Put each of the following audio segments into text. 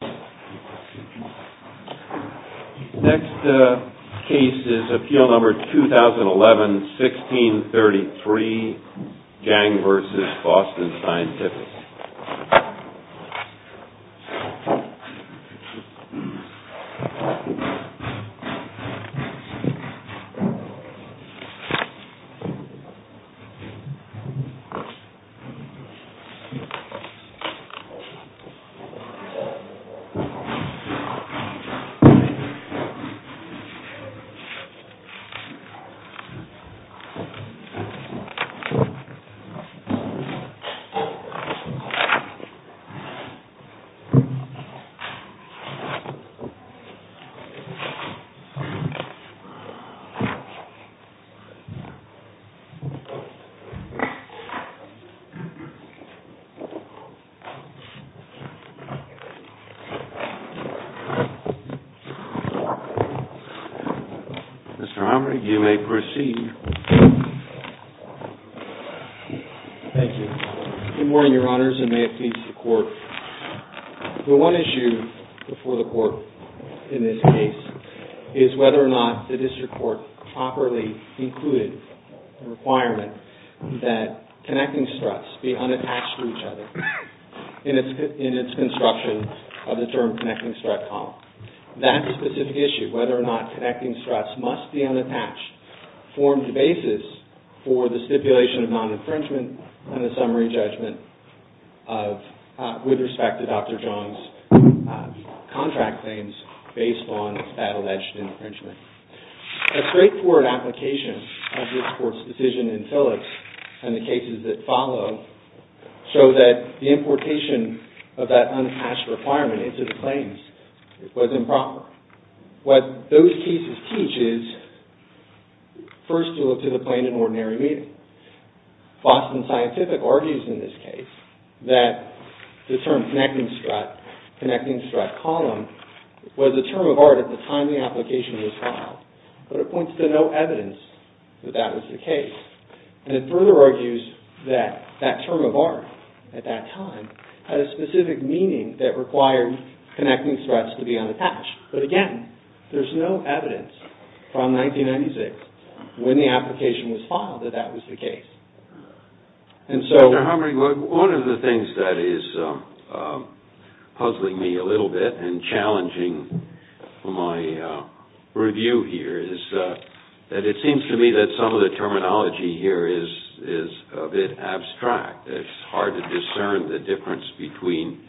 Next case is Appeal Number 2011-1633, Gang v. Boston Scientific. Appeal Number 2011-1633, Gang v. Boston Scientific. Mr. Homer, you may proceed. Thank you. Good morning, Your Honors, and may it please the Court. The one issue before the Court in this case is whether or not the district court properly included the requirement that connecting struts be unattached to each other. In its construction of the term connecting strut column. That specific issue, whether or not connecting struts must be unattached, formed the basis for the stipulation of non-infringement and the summary judgment with respect to Dr. John's contract claims based on that alleged infringement. A straightforward application of this Court's decision in Phillips and the cases that follow show that the importation of that unattached requirement into the claims was improper. What those cases teach is first to look to the plain and ordinary meaning. Boston Scientific argues in this case that the term connecting strut column was a term of art at the time the application was filed. But it points to no evidence that that was the case. And it further argues that that term of art at that time had a specific meaning that required connecting struts to be unattached. But again, there's no evidence from 1996 when the application was filed that that was the case. And so... Dr. Humphrey, one of the things that is puzzling me a little bit and challenging my review here is that it seems to me that some of the terminology here is a bit abstract. It's hard to discern the difference between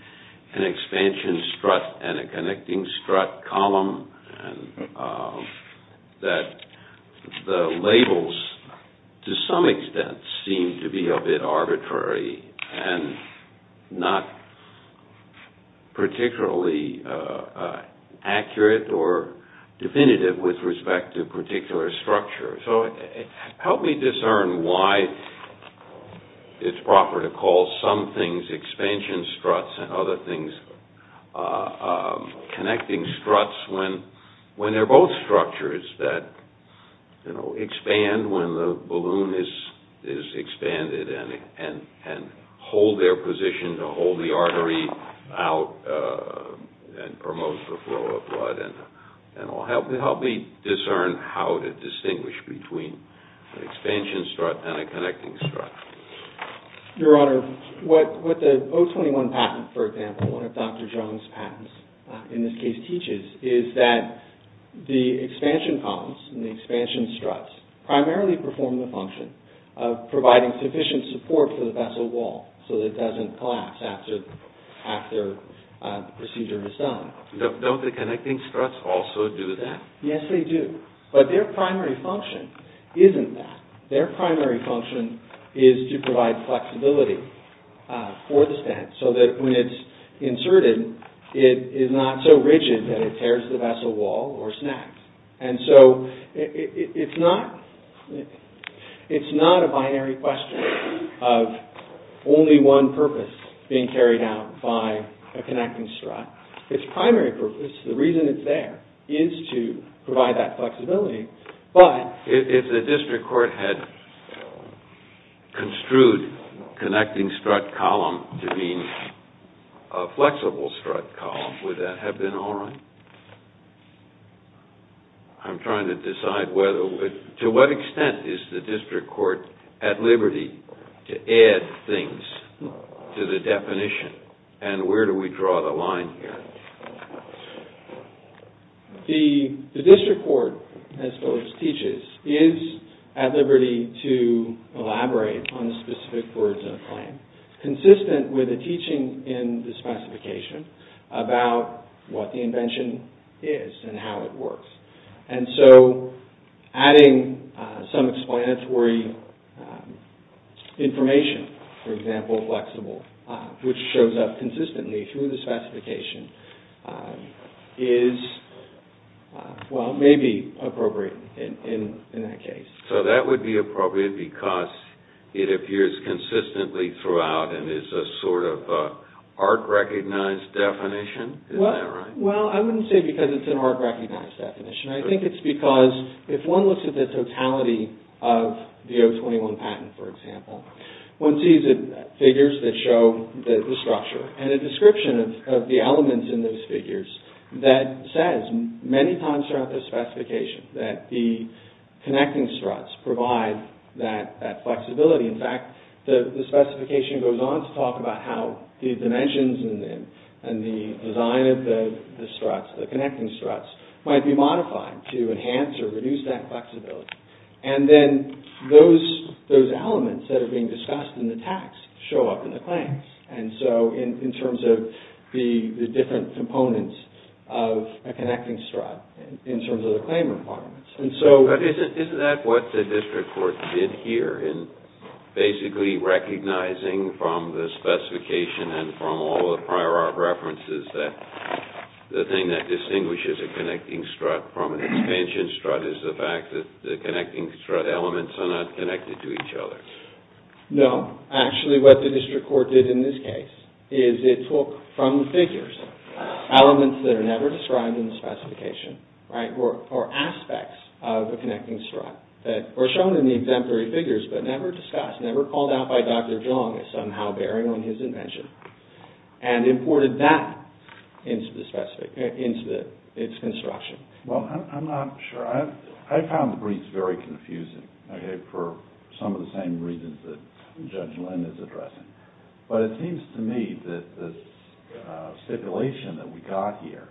an expansion strut and a connecting strut column. And that the labels, to some extent, seem to be a bit arbitrary and not particularly accurate or definitive with respect to a particular structure. So help me discern why it's proper to call some things expansion struts and other things connecting struts when they're both structures that expand when the balloon is expanded and hold their position to hold the artery out and promote the flow of blood. Help me discern how to distinguish between an expansion strut and a connecting strut. Your Honor, what the 021 patent, for example, one of Dr. Jones' patents in this case teaches is that the expansion columns and the expansion struts primarily perform the function of providing sufficient support for the vessel wall so that it doesn't collapse after the procedure is done. Don't the connecting struts also do that? Yes, they do. But their primary function isn't that. Their primary function is to provide flexibility for the stand so that when it's inserted, it is not so rigid that it tears the vessel wall or snaps. And so it's not a binary question of only one purpose being carried out by a connecting strut. It's primary purpose, the reason it's there, is to provide that flexibility. But if the district court had construed connecting strut column to be a flexible strut column, would that have been all right? I'm trying to decide whether – to what extent is the district court at liberty to add things to the definition? And where do we draw the line here? The district court, as Phyllis teaches, is at liberty to elaborate on specific words in a claim consistent with the teaching in the specification about what the invention is and how it works. And so adding some explanatory information, for example, flexible, which shows up consistently through the specification, is – well, may be appropriate in that case. So that would be appropriate because it appears consistently throughout and is a sort of art-recognized definition? Well, I wouldn't say because it's an art-recognized definition. I think it's because if one looks at the totality of the O21 patent, for example, one sees figures that show the structure. And a description of the elements in those figures that says many times throughout the specification that the connecting struts provide that flexibility. In fact, the specification goes on to talk about how the dimensions and the design of the struts, the connecting struts, might be modified to enhance or reduce that flexibility. And then those elements that are being discussed in the text show up in the claims. And so in terms of the different components of a connecting strut in terms of the claim requirements. Isn't that what the district court did here in basically recognizing from the specification and from all the prior art references that the thing that distinguishes a connecting strut from an expansion strut is the fact that the connecting strut elements are not connected to each other? No. Actually, what the district court did in this case is it took from the figures elements that are never described in the specification or aspects of a connecting strut that were shown in the exemplary figures but never discussed, never called out by Dr. Jung as somehow bearing on his invention and imported that into its construction. Well, I'm not sure. I found the briefs very confusing for some of the same reasons that Judge Lynn is addressing. But it seems to me that the stipulation that we got here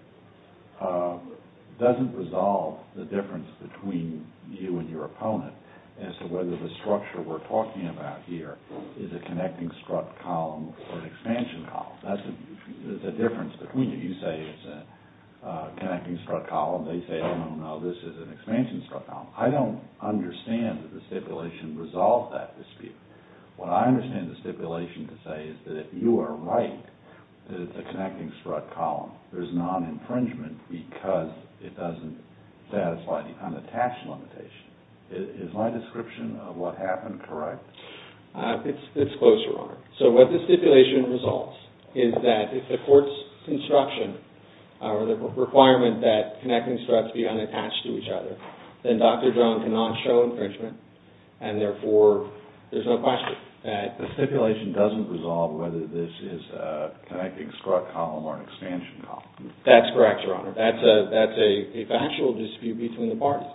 doesn't resolve the difference between you and your opponent as to whether the structure we're talking about here is a connecting strut column or an expansion column. There's a difference between you. You say it's a connecting strut column. They say, oh, no, no, this is an expansion strut column. I don't understand that the stipulation resolves that dispute. What I understand the stipulation to say is that if you are right that it's a connecting strut column, there's non-infringement because it doesn't satisfy any kind of tax limitation. Is my description of what happened correct? It's close, Your Honor. So what the stipulation resolves is that if the court's instruction or the requirement that connecting struts be unattached to each other, then Dr. Jung cannot show infringement and therefore there's no question that… The stipulation doesn't resolve whether this is a connecting strut column or an expansion column. That's correct, Your Honor. That's a factual dispute between the parties.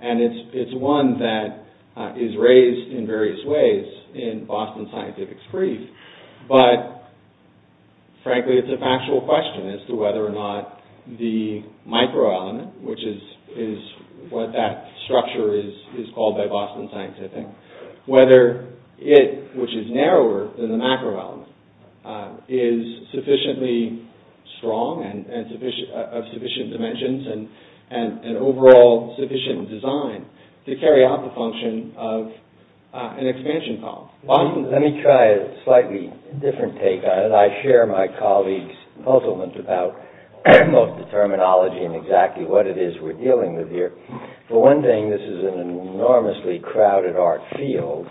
And it's one that is raised in various ways in Boston Scientific's brief. But frankly, it's a factual question as to whether or not the microelement, which is what that structure is called by Boston Scientific, whether it, which is narrower than the macroelement, is sufficiently strong and of sufficient dimensions and overall sufficient design to carry out the function of an expansion column. Let me try a slightly different take on it. I share my colleague's puzzlement about both the terminology and exactly what it is we're dealing with here. For one thing, this is an enormously crowded art field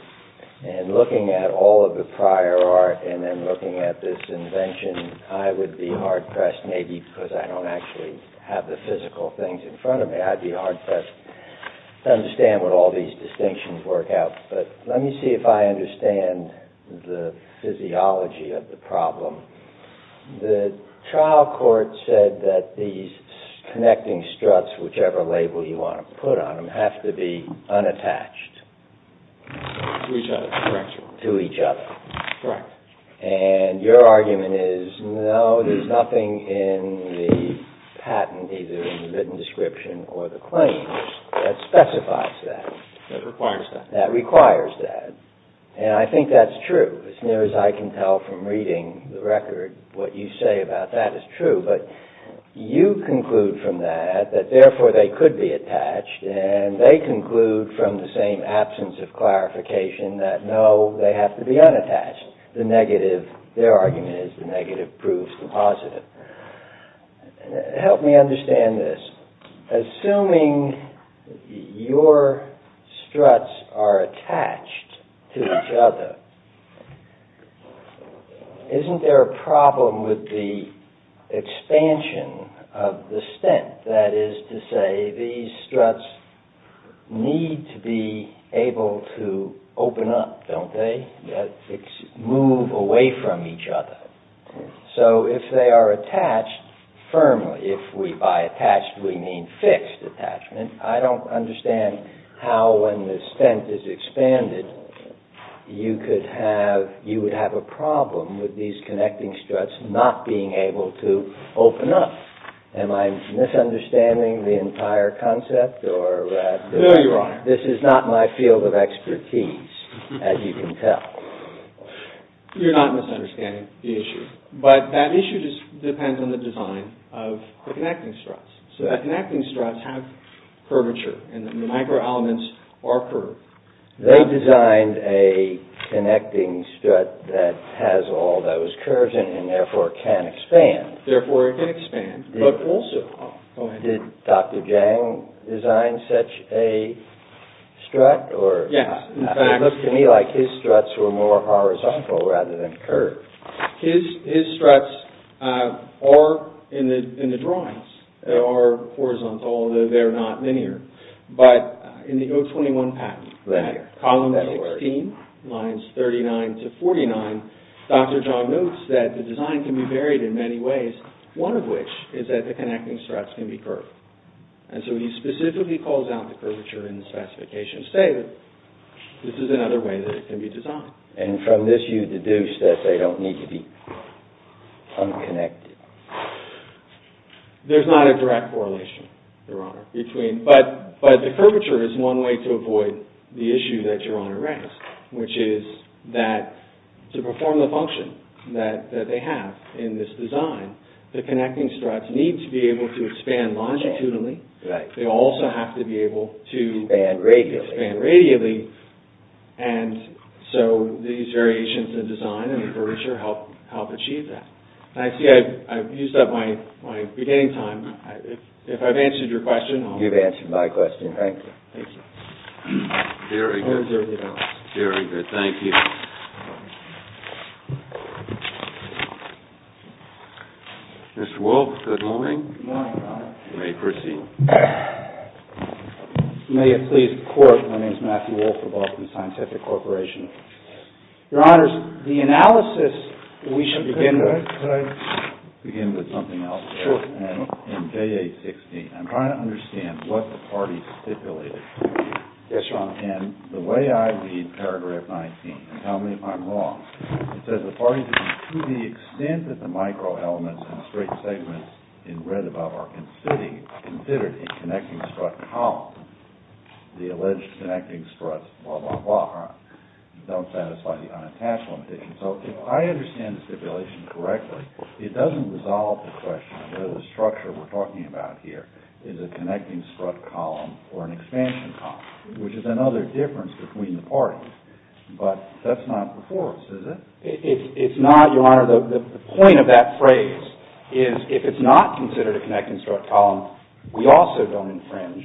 and looking at all of the prior art and then looking at this invention, I would be hard-pressed maybe because I don't actually have the physical things in front of me. I'd be hard-pressed to understand what all these distinctions work out. But let me see if I understand the physiology of the problem. The trial court said that these connecting struts, whichever label you want to put on them, have to be unattached to each other. Correct. And your argument is, no, there's nothing in the patent, either in the written description or the claims, that specifies that. That requires that. And I think that's true. As near as I can tell from reading the record, what you say about that is true. But you conclude from that that, therefore, they could be attached, and they conclude from the same absence of clarification that, no, they have to be unattached. The negative, their argument is, the negative proves the positive. Help me understand this. Assuming your struts are attached to each other, isn't there a problem with the expansion of the stent? That is to say, these struts need to be able to open up, don't they? Move away from each other. So, if they are attached firmly, if by attached we mean fixed attachment, I don't understand how, when the stent is expanded, you would have a problem with these connecting struts not being able to open up. Am I misunderstanding the entire concept? No, Your Honor. This is not my field of expertise, as you can tell. You're not misunderstanding the issue. But that issue just depends on the design of the connecting struts. So, the connecting struts have curvature, and the micro-elements are curved. They designed a connecting strut that has all those curves in it and, therefore, can expand. Therefore, it can expand, but also... Did Dr. Jang design such a strut? Yes, in fact... It looks to me like his struts were more horizontal rather than curved. His struts are, in the drawings, are horizontal, although they're not linear. But in the O21 patent, column 16, lines 39 to 49, Dr. Jang notes that the design can be varied in many ways, one of which is that the connecting struts can be curved. And so, he specifically calls out the curvature in the specification to say that this is another way that it can be designed. And from this, you deduce that they don't need to be unconnected. There's not a direct correlation, Your Honor. But the curvature is one way to avoid the issue that Your Honor raised, which is that to perform the function that they have in this design, the connecting struts need to be able to expand longitudinally. Right. They also have to be able to... Expand radially. Expand radially. And so, these variations in design and curvature help achieve that. I see I've used up my beginning time. If I've answered your question... You've answered my question. Thank you. Thank you. Very good. Very good. Thank you. Mr. Wolfe, good morning. Good morning, Your Honor. You may proceed. May it please the Court, my name is Matthew Wolfe of the Boston Scientific Corporation. Your Honors, the analysis we should begin with... Can I begin with something else? Sure. In J860, I'm trying to understand what the parties stipulated. Yes, Your Honor. And the way I read paragraph 19, tell me if I'm wrong. It says the parties are to the extent that the microelements and straight segments in red above are considered a connecting strut column. The alleged connecting struts, blah, blah, blah, don't satisfy the unattached limitation. So, if I understand the stipulation correctly, it doesn't resolve the question of whether the structure we're talking about here is a connecting strut column or an expansion column, which is another difference between the parties, but that's not before us, is it? It's not, Your Honor. The point of that phrase is if it's not considered a connecting strut column, we also don't infringe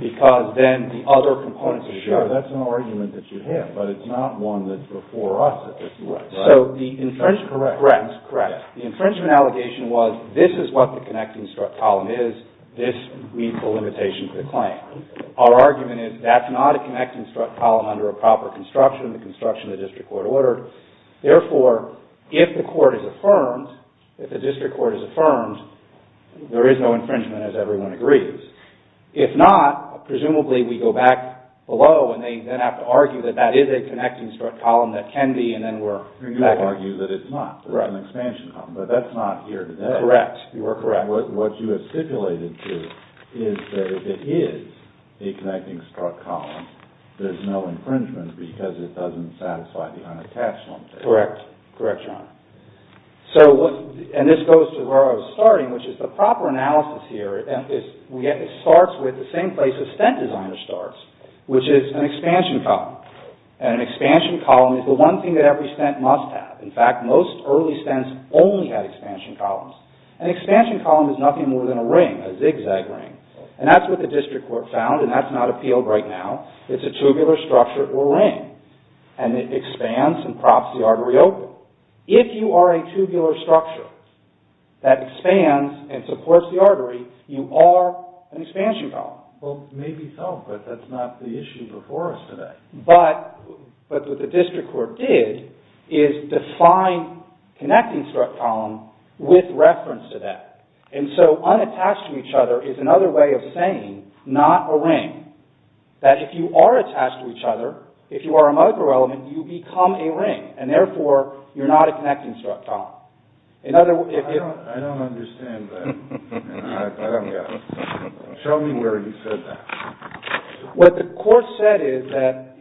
because then the other components are shared. Sure, that's an argument that you have, but it's not one that's before us, is it? Right. So, the infringement... That's correct. Correct. That's correct. The infringement allegation was this is what the connecting strut column is, this meets the limitation for the claim. Our argument is that's not a connecting strut column under a proper construction, the construction the district court ordered. Therefore, if the court is affirmed, if the district court is affirmed, there is no infringement, as everyone agrees. If not, presumably we go back below and they then have to argue that that is a connecting strut column that can be, and then we're back... You argue that it's not. Right. It's an expansion column, but that's not here today. Correct. You are correct. And what you have stipulated to is that if it is a connecting strut column, there's no infringement because it doesn't satisfy the unattached limitation. Correct. Correct, John. And this goes to where I was starting, which is the proper analysis here starts with the same place a stent designer starts, which is an expansion column. And an expansion column is the one thing that every stent must have. In fact, most early stents only had expansion columns. An expansion column is nothing more than a ring, a zigzag ring. And that's what the district court found, and that's not appealed right now. It's a tubular structure or ring, and it expands and props the artery open. If you are a tubular structure that expands and supports the artery, you are an expansion column. Well, maybe so, but that's not the issue before us today. But what the district court did is define connecting strut column with reference to that. And so unattached to each other is another way of saying not a ring. That if you are attached to each other, if you are a microelement, you become a ring, and therefore you're not a connecting strut column. I don't understand that, and I don't get it. Show me where he said that. What the court said is that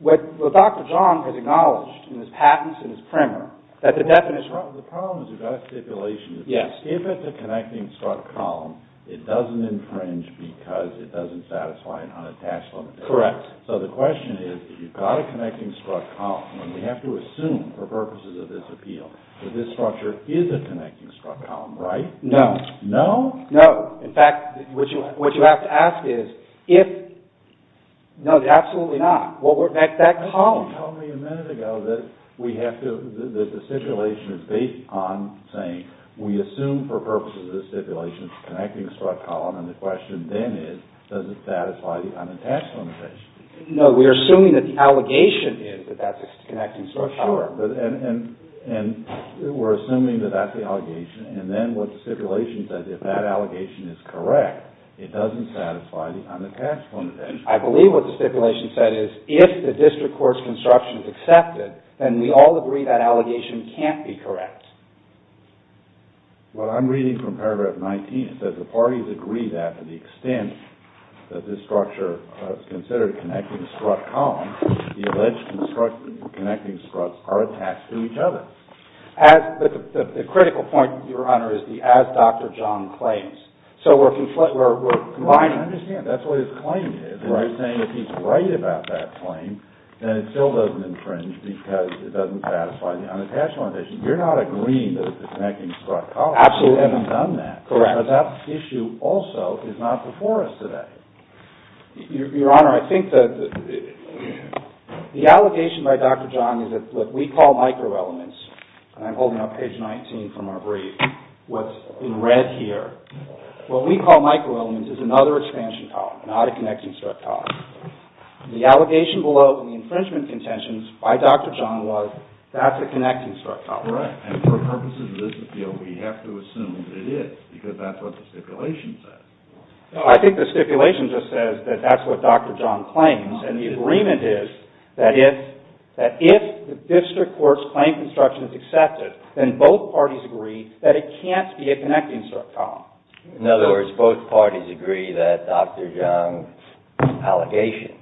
what Dr. John has acknowledged in his patents and his primer, that the definition of- The problem is we've got a stipulation that if it's a connecting strut column, it doesn't infringe because it doesn't satisfy an unattached limit. Correct. So the question is, if you've got a connecting strut column, and we have to assume for purposes of this appeal that this structure is a connecting strut column, right? No. No? No. In fact, what you have to ask is if- No, absolutely not. What would make that column- Tell me a minute ago that the stipulation is based on saying we assume for purposes of this stipulation it's a connecting strut column, and the question then is, does it satisfy the unattached limitation? No, we're assuming that the allegation is that that's a connecting strut column. Sure. We're assuming that that's the allegation, and then what the stipulation says, if that allegation is correct, it doesn't satisfy the unattached limitation. I believe what the stipulation said is, if the district court's construction is accepted, then we all agree that allegation can't be correct. Well, I'm reading from paragraph 19. It says, the parties agree that to the extent that this structure is considered a connecting strut column, the alleged connecting struts are attached to each other. The critical point, Your Honor, is the as Dr. John claims. I understand. That's what his claim is. You're saying if he's right about that claim, then it still doesn't infringe because it doesn't satisfy the unattached limitation. You're not agreeing that it's a connecting strut column. Absolutely. We haven't done that. Correct. Because that issue also is not before us today. Your Honor, I think that the allegation by Dr. John is that what we call microelements, and I'm holding up page 19 from our brief, what's in red here, what we call microelements is another expansion column, not a connecting strut column. The allegation below in the infringement contentions by Dr. John was that's a connecting strut column. Correct. And for purposes of this appeal, we have to assume that it is because that's what the stipulation says. I think the stipulation just says that that's what Dr. John claims, and the agreement is that if the district court's claim construction is accepted, then both parties agree that it can't be a connecting strut column. In other words, both parties agree that Dr. John's allegation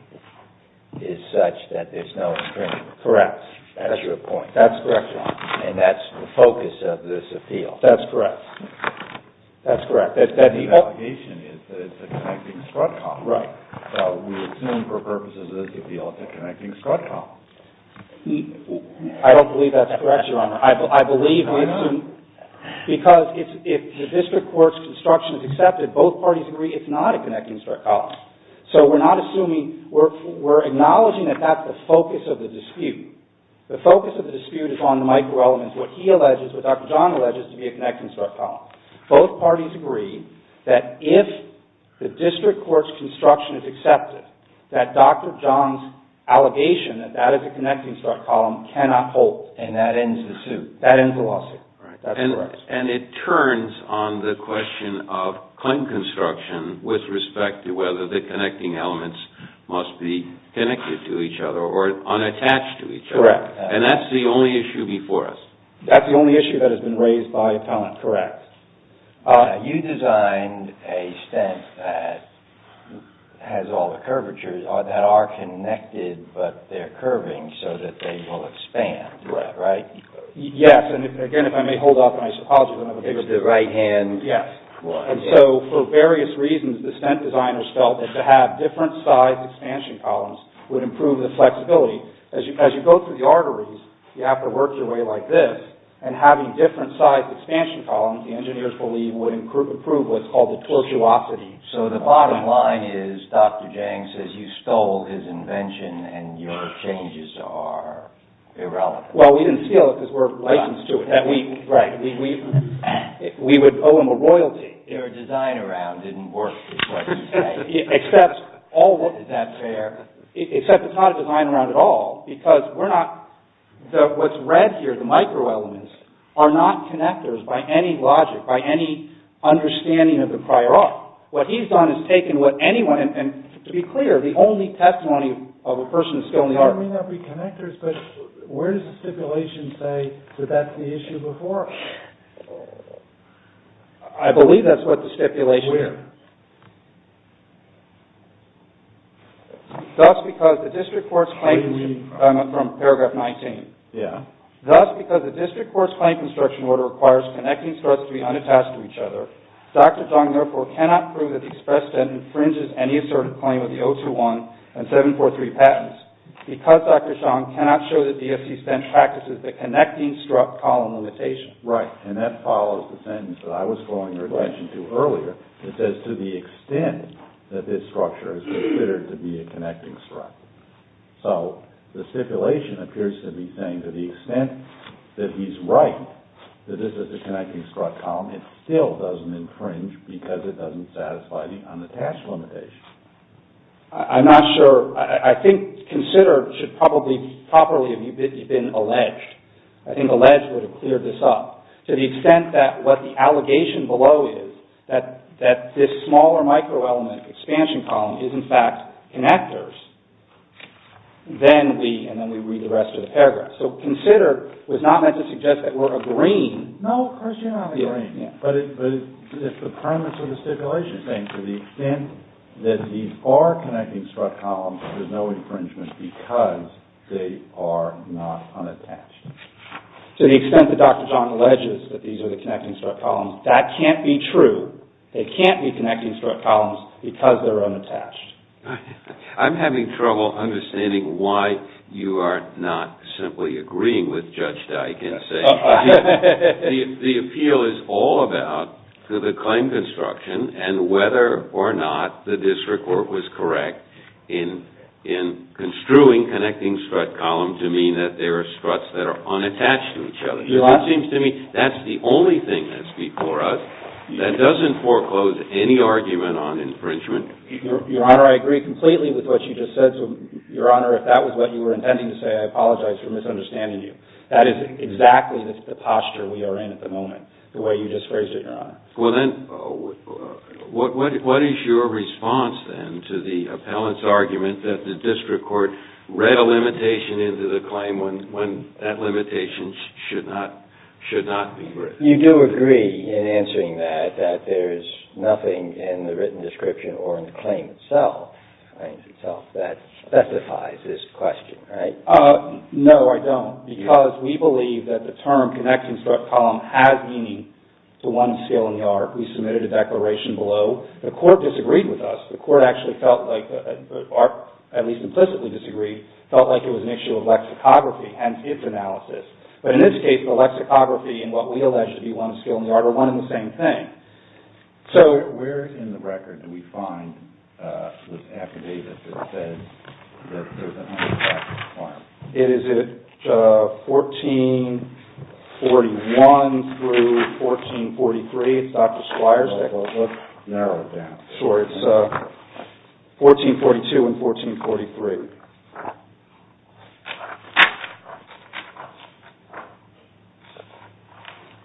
is such that there's no infringement. Correct. That's your point. That's correct, Your Honor. And that's the focus of this appeal. That's correct. That's correct. The allegation is that it's a connecting strut column. Right. So we assume for purposes of this appeal it's a connecting strut column. I don't believe that's correct, Your Honor. I believe we assume because if the district court's construction is accepted, both parties agree it's not a connecting strut column. So we're not assuming, we're acknowledging that that's the focus of the dispute. The focus of the dispute is on the microelements, what he alleges, what Dr. John alleges to be a connecting strut column. Both parties agree that if the district court's construction is accepted, that Dr. John's allegation that that is a connecting strut column cannot hold, and that ends the lawsuit. And it turns on the question of claim construction with respect to whether the connecting elements must be connected to each other or unattached to each other. Correct. And that's the only issue before us. That's the only issue that has been raised by time. Correct. You designed a stent that has all the curvatures, that are connected but they're curving so that they will expand. Correct. Right? Yes. And again, if I may hold off, my apologies. It's the right hand. Yes. And so for various reasons, the stent designers felt that to have different sized expansion columns would improve the flexibility. As you go through the arteries, you have to work your way like this. And having different sized expansion columns, the engineers believe, would improve what's called the tortuosity. So the bottom line is Dr. Jang says you stole his invention and your changes are irrelevant. Well, we didn't steal it because we're licensed to it. Right. We would owe him a royalty. Your design around didn't work is what you say. Except it's not a design around at all because what's read here, the micro-elements, are not connectors by any logic, by any understanding of the prior art. What he's done is taken what anyone, and to be clear, the only testimony of a person who's skilled in the art. Well, it may not be connectors, but where does the stipulation say that that's the issue before? I believe that's what the stipulation is. Where? Thus, because the district court's claim from paragraph 19. Yeah. Thus, because the district court's claim construction order requires connecting struts to be unattached to each other, Dr. Jang, therefore, cannot prove that the express debt infringes any assertive claim of the 021 and 743 patents because Dr. Jang cannot show that DFC spent practices the connecting strut column limitation. Right. And that follows the sentence that I was flowing your attention to earlier. It says to the extent that this structure is considered to be a connecting strut. So, the stipulation appears to be saying to the extent that he's right, that this is a connecting strut column, it still doesn't infringe because it doesn't satisfy the unattached limitation. I'm not sure. I think considered should probably properly have been alleged. I think alleged would have cleared this up. To the extent that what the allegation below is that this smaller microelement expansion column is, in fact, connectors, then we, and then we read the rest of the paragraph. So, considered was not meant to suggest that we're agreeing. No, of course you're not agreeing. But it's the premise of the stipulation saying to the extent that these are connecting strut columns, there's no infringement because they are not unattached. To the extent that Dr. John alleges that these are the connecting strut columns, that can't be true. They can't be connecting strut columns because they're unattached. I'm having trouble understanding why you are not simply agreeing with Judge Dyke and saying the appeal is all about to the claim construction and whether or not the district court was correct in construing connecting strut columns to mean that there are struts that are unattached to each other. It seems to me that's the only thing that's before us that doesn't foreclose any argument on infringement. Your Honor, I agree completely with what you just said. So, Your Honor, if that was what you were intending to say, I apologize for misunderstanding you. That is exactly the posture we are in at the moment, the way you just phrased it, Your Honor. Well, then, what is your response, then, to the appellant's argument that the district court read a limitation into the claim when that limitation should not be written? You do agree in answering that that there is nothing in the written description or in the claim itself that specifies this question, right? No, I don't, because we believe that the term connecting strut column has meaning to one skill in the art. We submitted a declaration below. The court disagreed with us. The court actually felt like, or at least implicitly disagreed, felt like it was an issue of lexicography, hence its analysis. But in this case, the lexicography and what we allege to be one skill in the art are one and the same thing. So, where in the record do we find this affidavit that says that there is a home of Dr. Squire? It is at 1441 through 1443. It's Dr. Squire's declaration. Let's narrow it down. Sure. It's 1442 and 1443.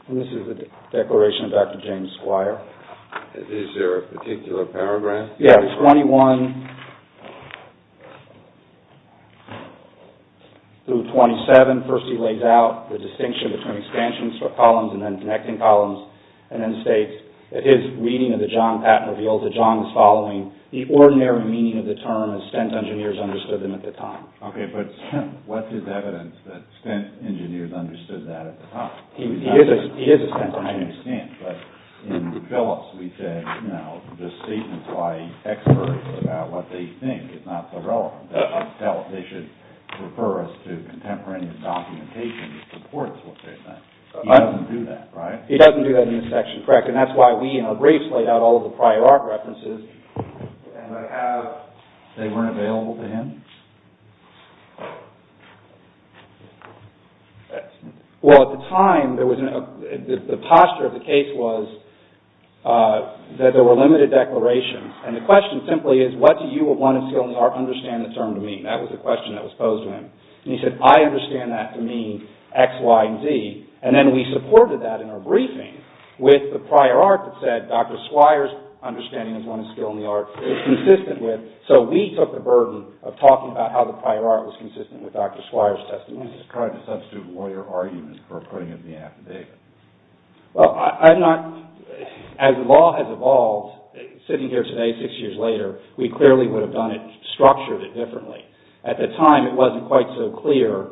And this is the declaration of Dr. James Squire. Is there a particular paragraph? Yeah, it's 21 through 27. First, he lays out the distinction between expansion columns and then connecting columns, and then states that his reading of the John Patton reveals that John is following the ordinary meaning of the term, Okay, but what is evidence that Stenth engineers understood that at the time? He is a Stenth engineer. I understand, but in Phillips, we said, you know, the statements by experts about what they think is not so relevant. They should refer us to contemporaneous documentation that supports what they think. He doesn't do that, right? He doesn't do that in this section, correct. And that's why we in our briefs laid out all of the prior art references. And I have, they weren't available to him? Well, at the time, the posture of the case was that there were limited declarations. And the question simply is, what do you want to understand the term to mean? That was the question that was posed to him. And he said, I understand that to mean X, Y, and Z. And then we supported that in our briefing with the prior art that said Dr. Squire's understanding is one of skill in the art is consistent with. So we took the burden of talking about how the prior art was consistent with Dr. Squire's testimony. This is kind of a substitute lawyer argument for putting it in the affidavit. Well, I'm not, as the law has evolved, sitting here today, six years later, we clearly would have done it, structured it differently. At the time, it wasn't quite so clear,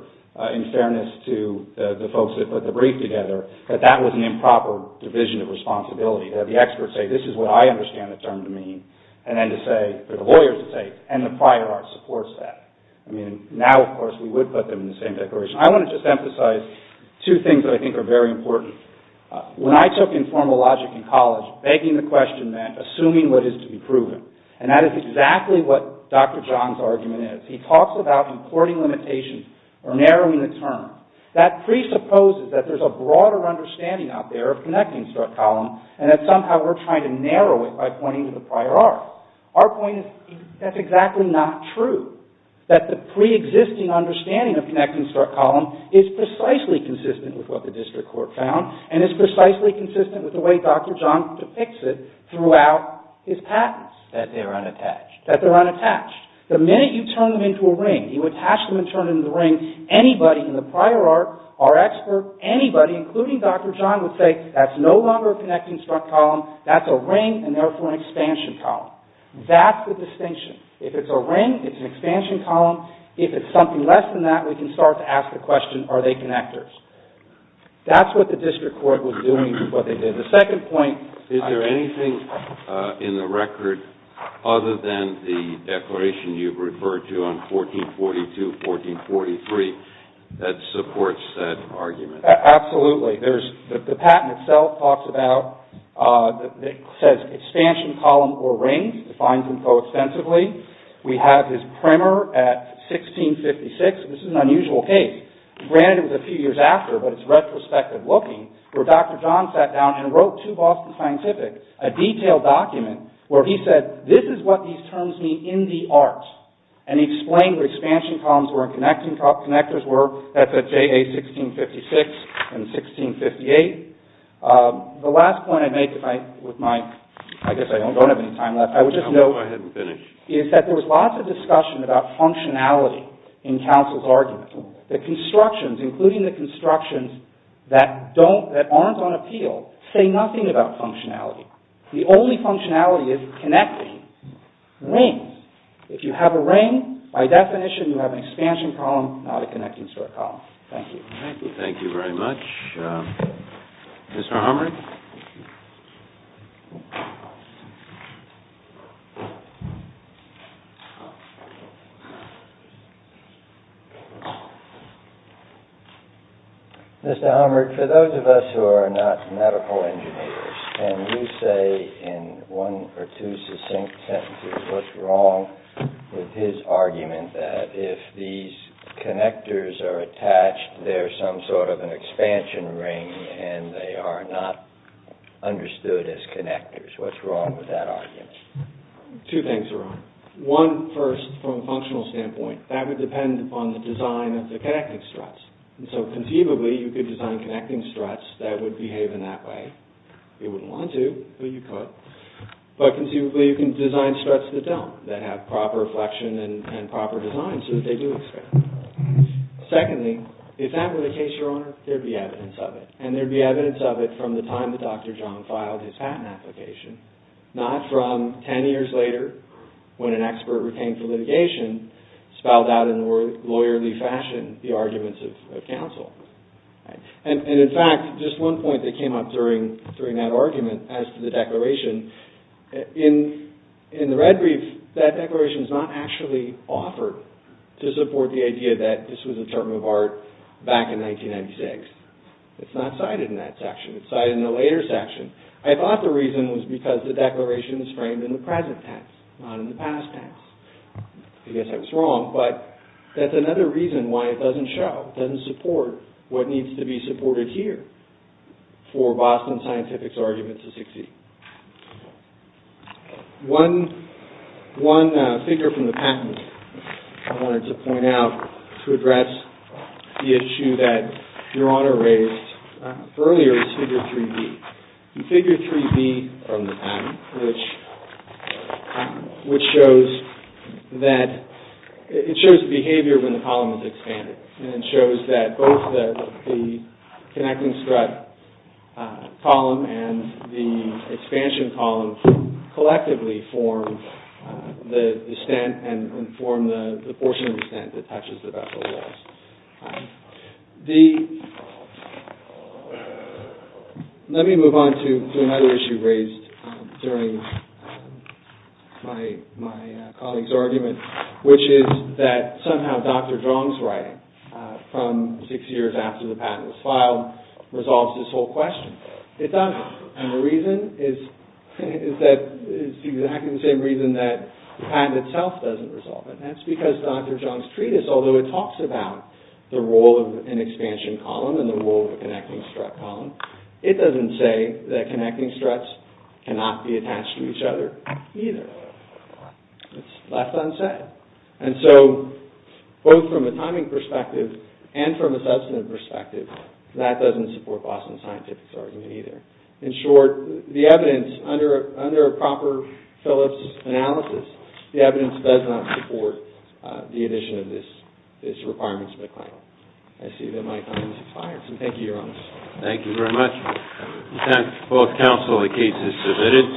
in fairness to the folks that put the brief together, that that was an improper division of responsibility. That the experts say, this is what I understand the term to mean. And then to say, for the lawyers to say, and the prior art supports that. I mean, now, of course, we would put them in the same declaration. I want to just emphasize two things that I think are very important. When I took informal logic in college, begging the question meant assuming what is to be proven. And that is exactly what Dr. John's argument is. He talks about importing limitations or narrowing the term. That presupposes that there's a broader understanding out there of connecting struct column. And that somehow we're trying to narrow it by pointing to the prior art. Our point is, that's exactly not true. That the pre-existing understanding of connecting struct column is precisely consistent with what the district court found. And is precisely consistent with the way Dr. John depicts it throughout his patents. That they're unattached. That they're unattached. The minute you turn them into a ring. You attach them and turn them into a ring. Anybody in the prior art, our expert, anybody, including Dr. John, would say, that's no longer a connecting struct column. That's a ring, and therefore an expansion column. That's the distinction. If it's a ring, it's an expansion column. If it's something less than that, we can start to ask the question, are they connectors? That's what the district court was doing, what they did. The second point, is there anything in the record, other than the declaration you've referred to on 1442, 1443, that supports that argument? Absolutely. The patent itself talks about, it says, expansion column or ring. Defines them co-extensively. We have his primer at 1656. This is an unusual case. Granted it was a few years after, but it's retrospective looking. Where Dr. John sat down and wrote to Boston Scientific, a detailed document, where he said, this is what these terms mean in the art. And he explained what expansion columns were and connectors were. That's at JA 1656 and 1658. The last point I'd make with my, I guess I don't have any time left. I would just note, is that there was lots of discussion about functionality in counsel's argument. The constructions, including the constructions that aren't on appeal, say nothing about functionality. The only functionality is connecting. Rings. If you have a ring, by definition you have an expansion column, not a connecting sort column. Thank you. Thank you very much. Mr. Hummery? Mr. Hummery, for those of us who are not medical engineers, can you say in one or two succinct sentences what's wrong with his argument that if these connectors are attached, there's some sort of an expansion ring and they are not understood as connectors. What's wrong with that argument? Two things are wrong. One, first, from a functional standpoint. That would depend upon the design of the connecting struts. So conceivably you could design connecting struts that would behave in that way. You wouldn't want to, but you could. But conceivably you can design struts that don't, that have proper reflection and proper design so that they do expand. Secondly, if that were the case, Your Honor, there would be evidence of it. And there would be evidence of it from the time that Dr. John filed his patent application, not from ten years later when an expert retained for litigation spelled out in lawyerly fashion the arguments of counsel. And, in fact, just one point that came up during that argument as to the declaration. In the red brief, that declaration is not actually offered to support the idea that this was a term of art back in 1996. It's not cited in that section. It's cited in the later section. I thought the reason was because the declaration is framed in the present tense, not in the past tense. I guess I was wrong, but that's another reason why it doesn't show, doesn't support what needs to be supported here for Boston Scientific's argument to succeed. One figure from the patent I wanted to point out to address the issue that Your Honor raised earlier is Figure 3D. The Figure 3D from the patent, which shows that it shows behavior when the column is expanded. And it shows that both the connecting strut column and the expansion column collectively form the stent and form the portion of the stent that touches the vessel walls. Let me move on to another issue raised during my colleague's argument, which is that somehow Dr. Jong's writing from six years after the patent was filed resolves this whole question. It doesn't. And the reason is that it's exactly the same reason that the patent itself doesn't resolve it. And that's because Dr. Jong's treatise, although it talks about the role of an expansion column and the role of a connecting strut column, it doesn't say that connecting struts cannot be attached to each other either. It's left unsaid. And so, both from a timing perspective and from a substantive perspective, that doesn't support Boston Scientific's argument either. In short, the evidence under a proper Phillips analysis, the evidence does not support the addition of this requirement to the claimant. I see that my time has expired, so thank you, Your Honor. Thank you very much. At this time, both counsel, the case is submitted.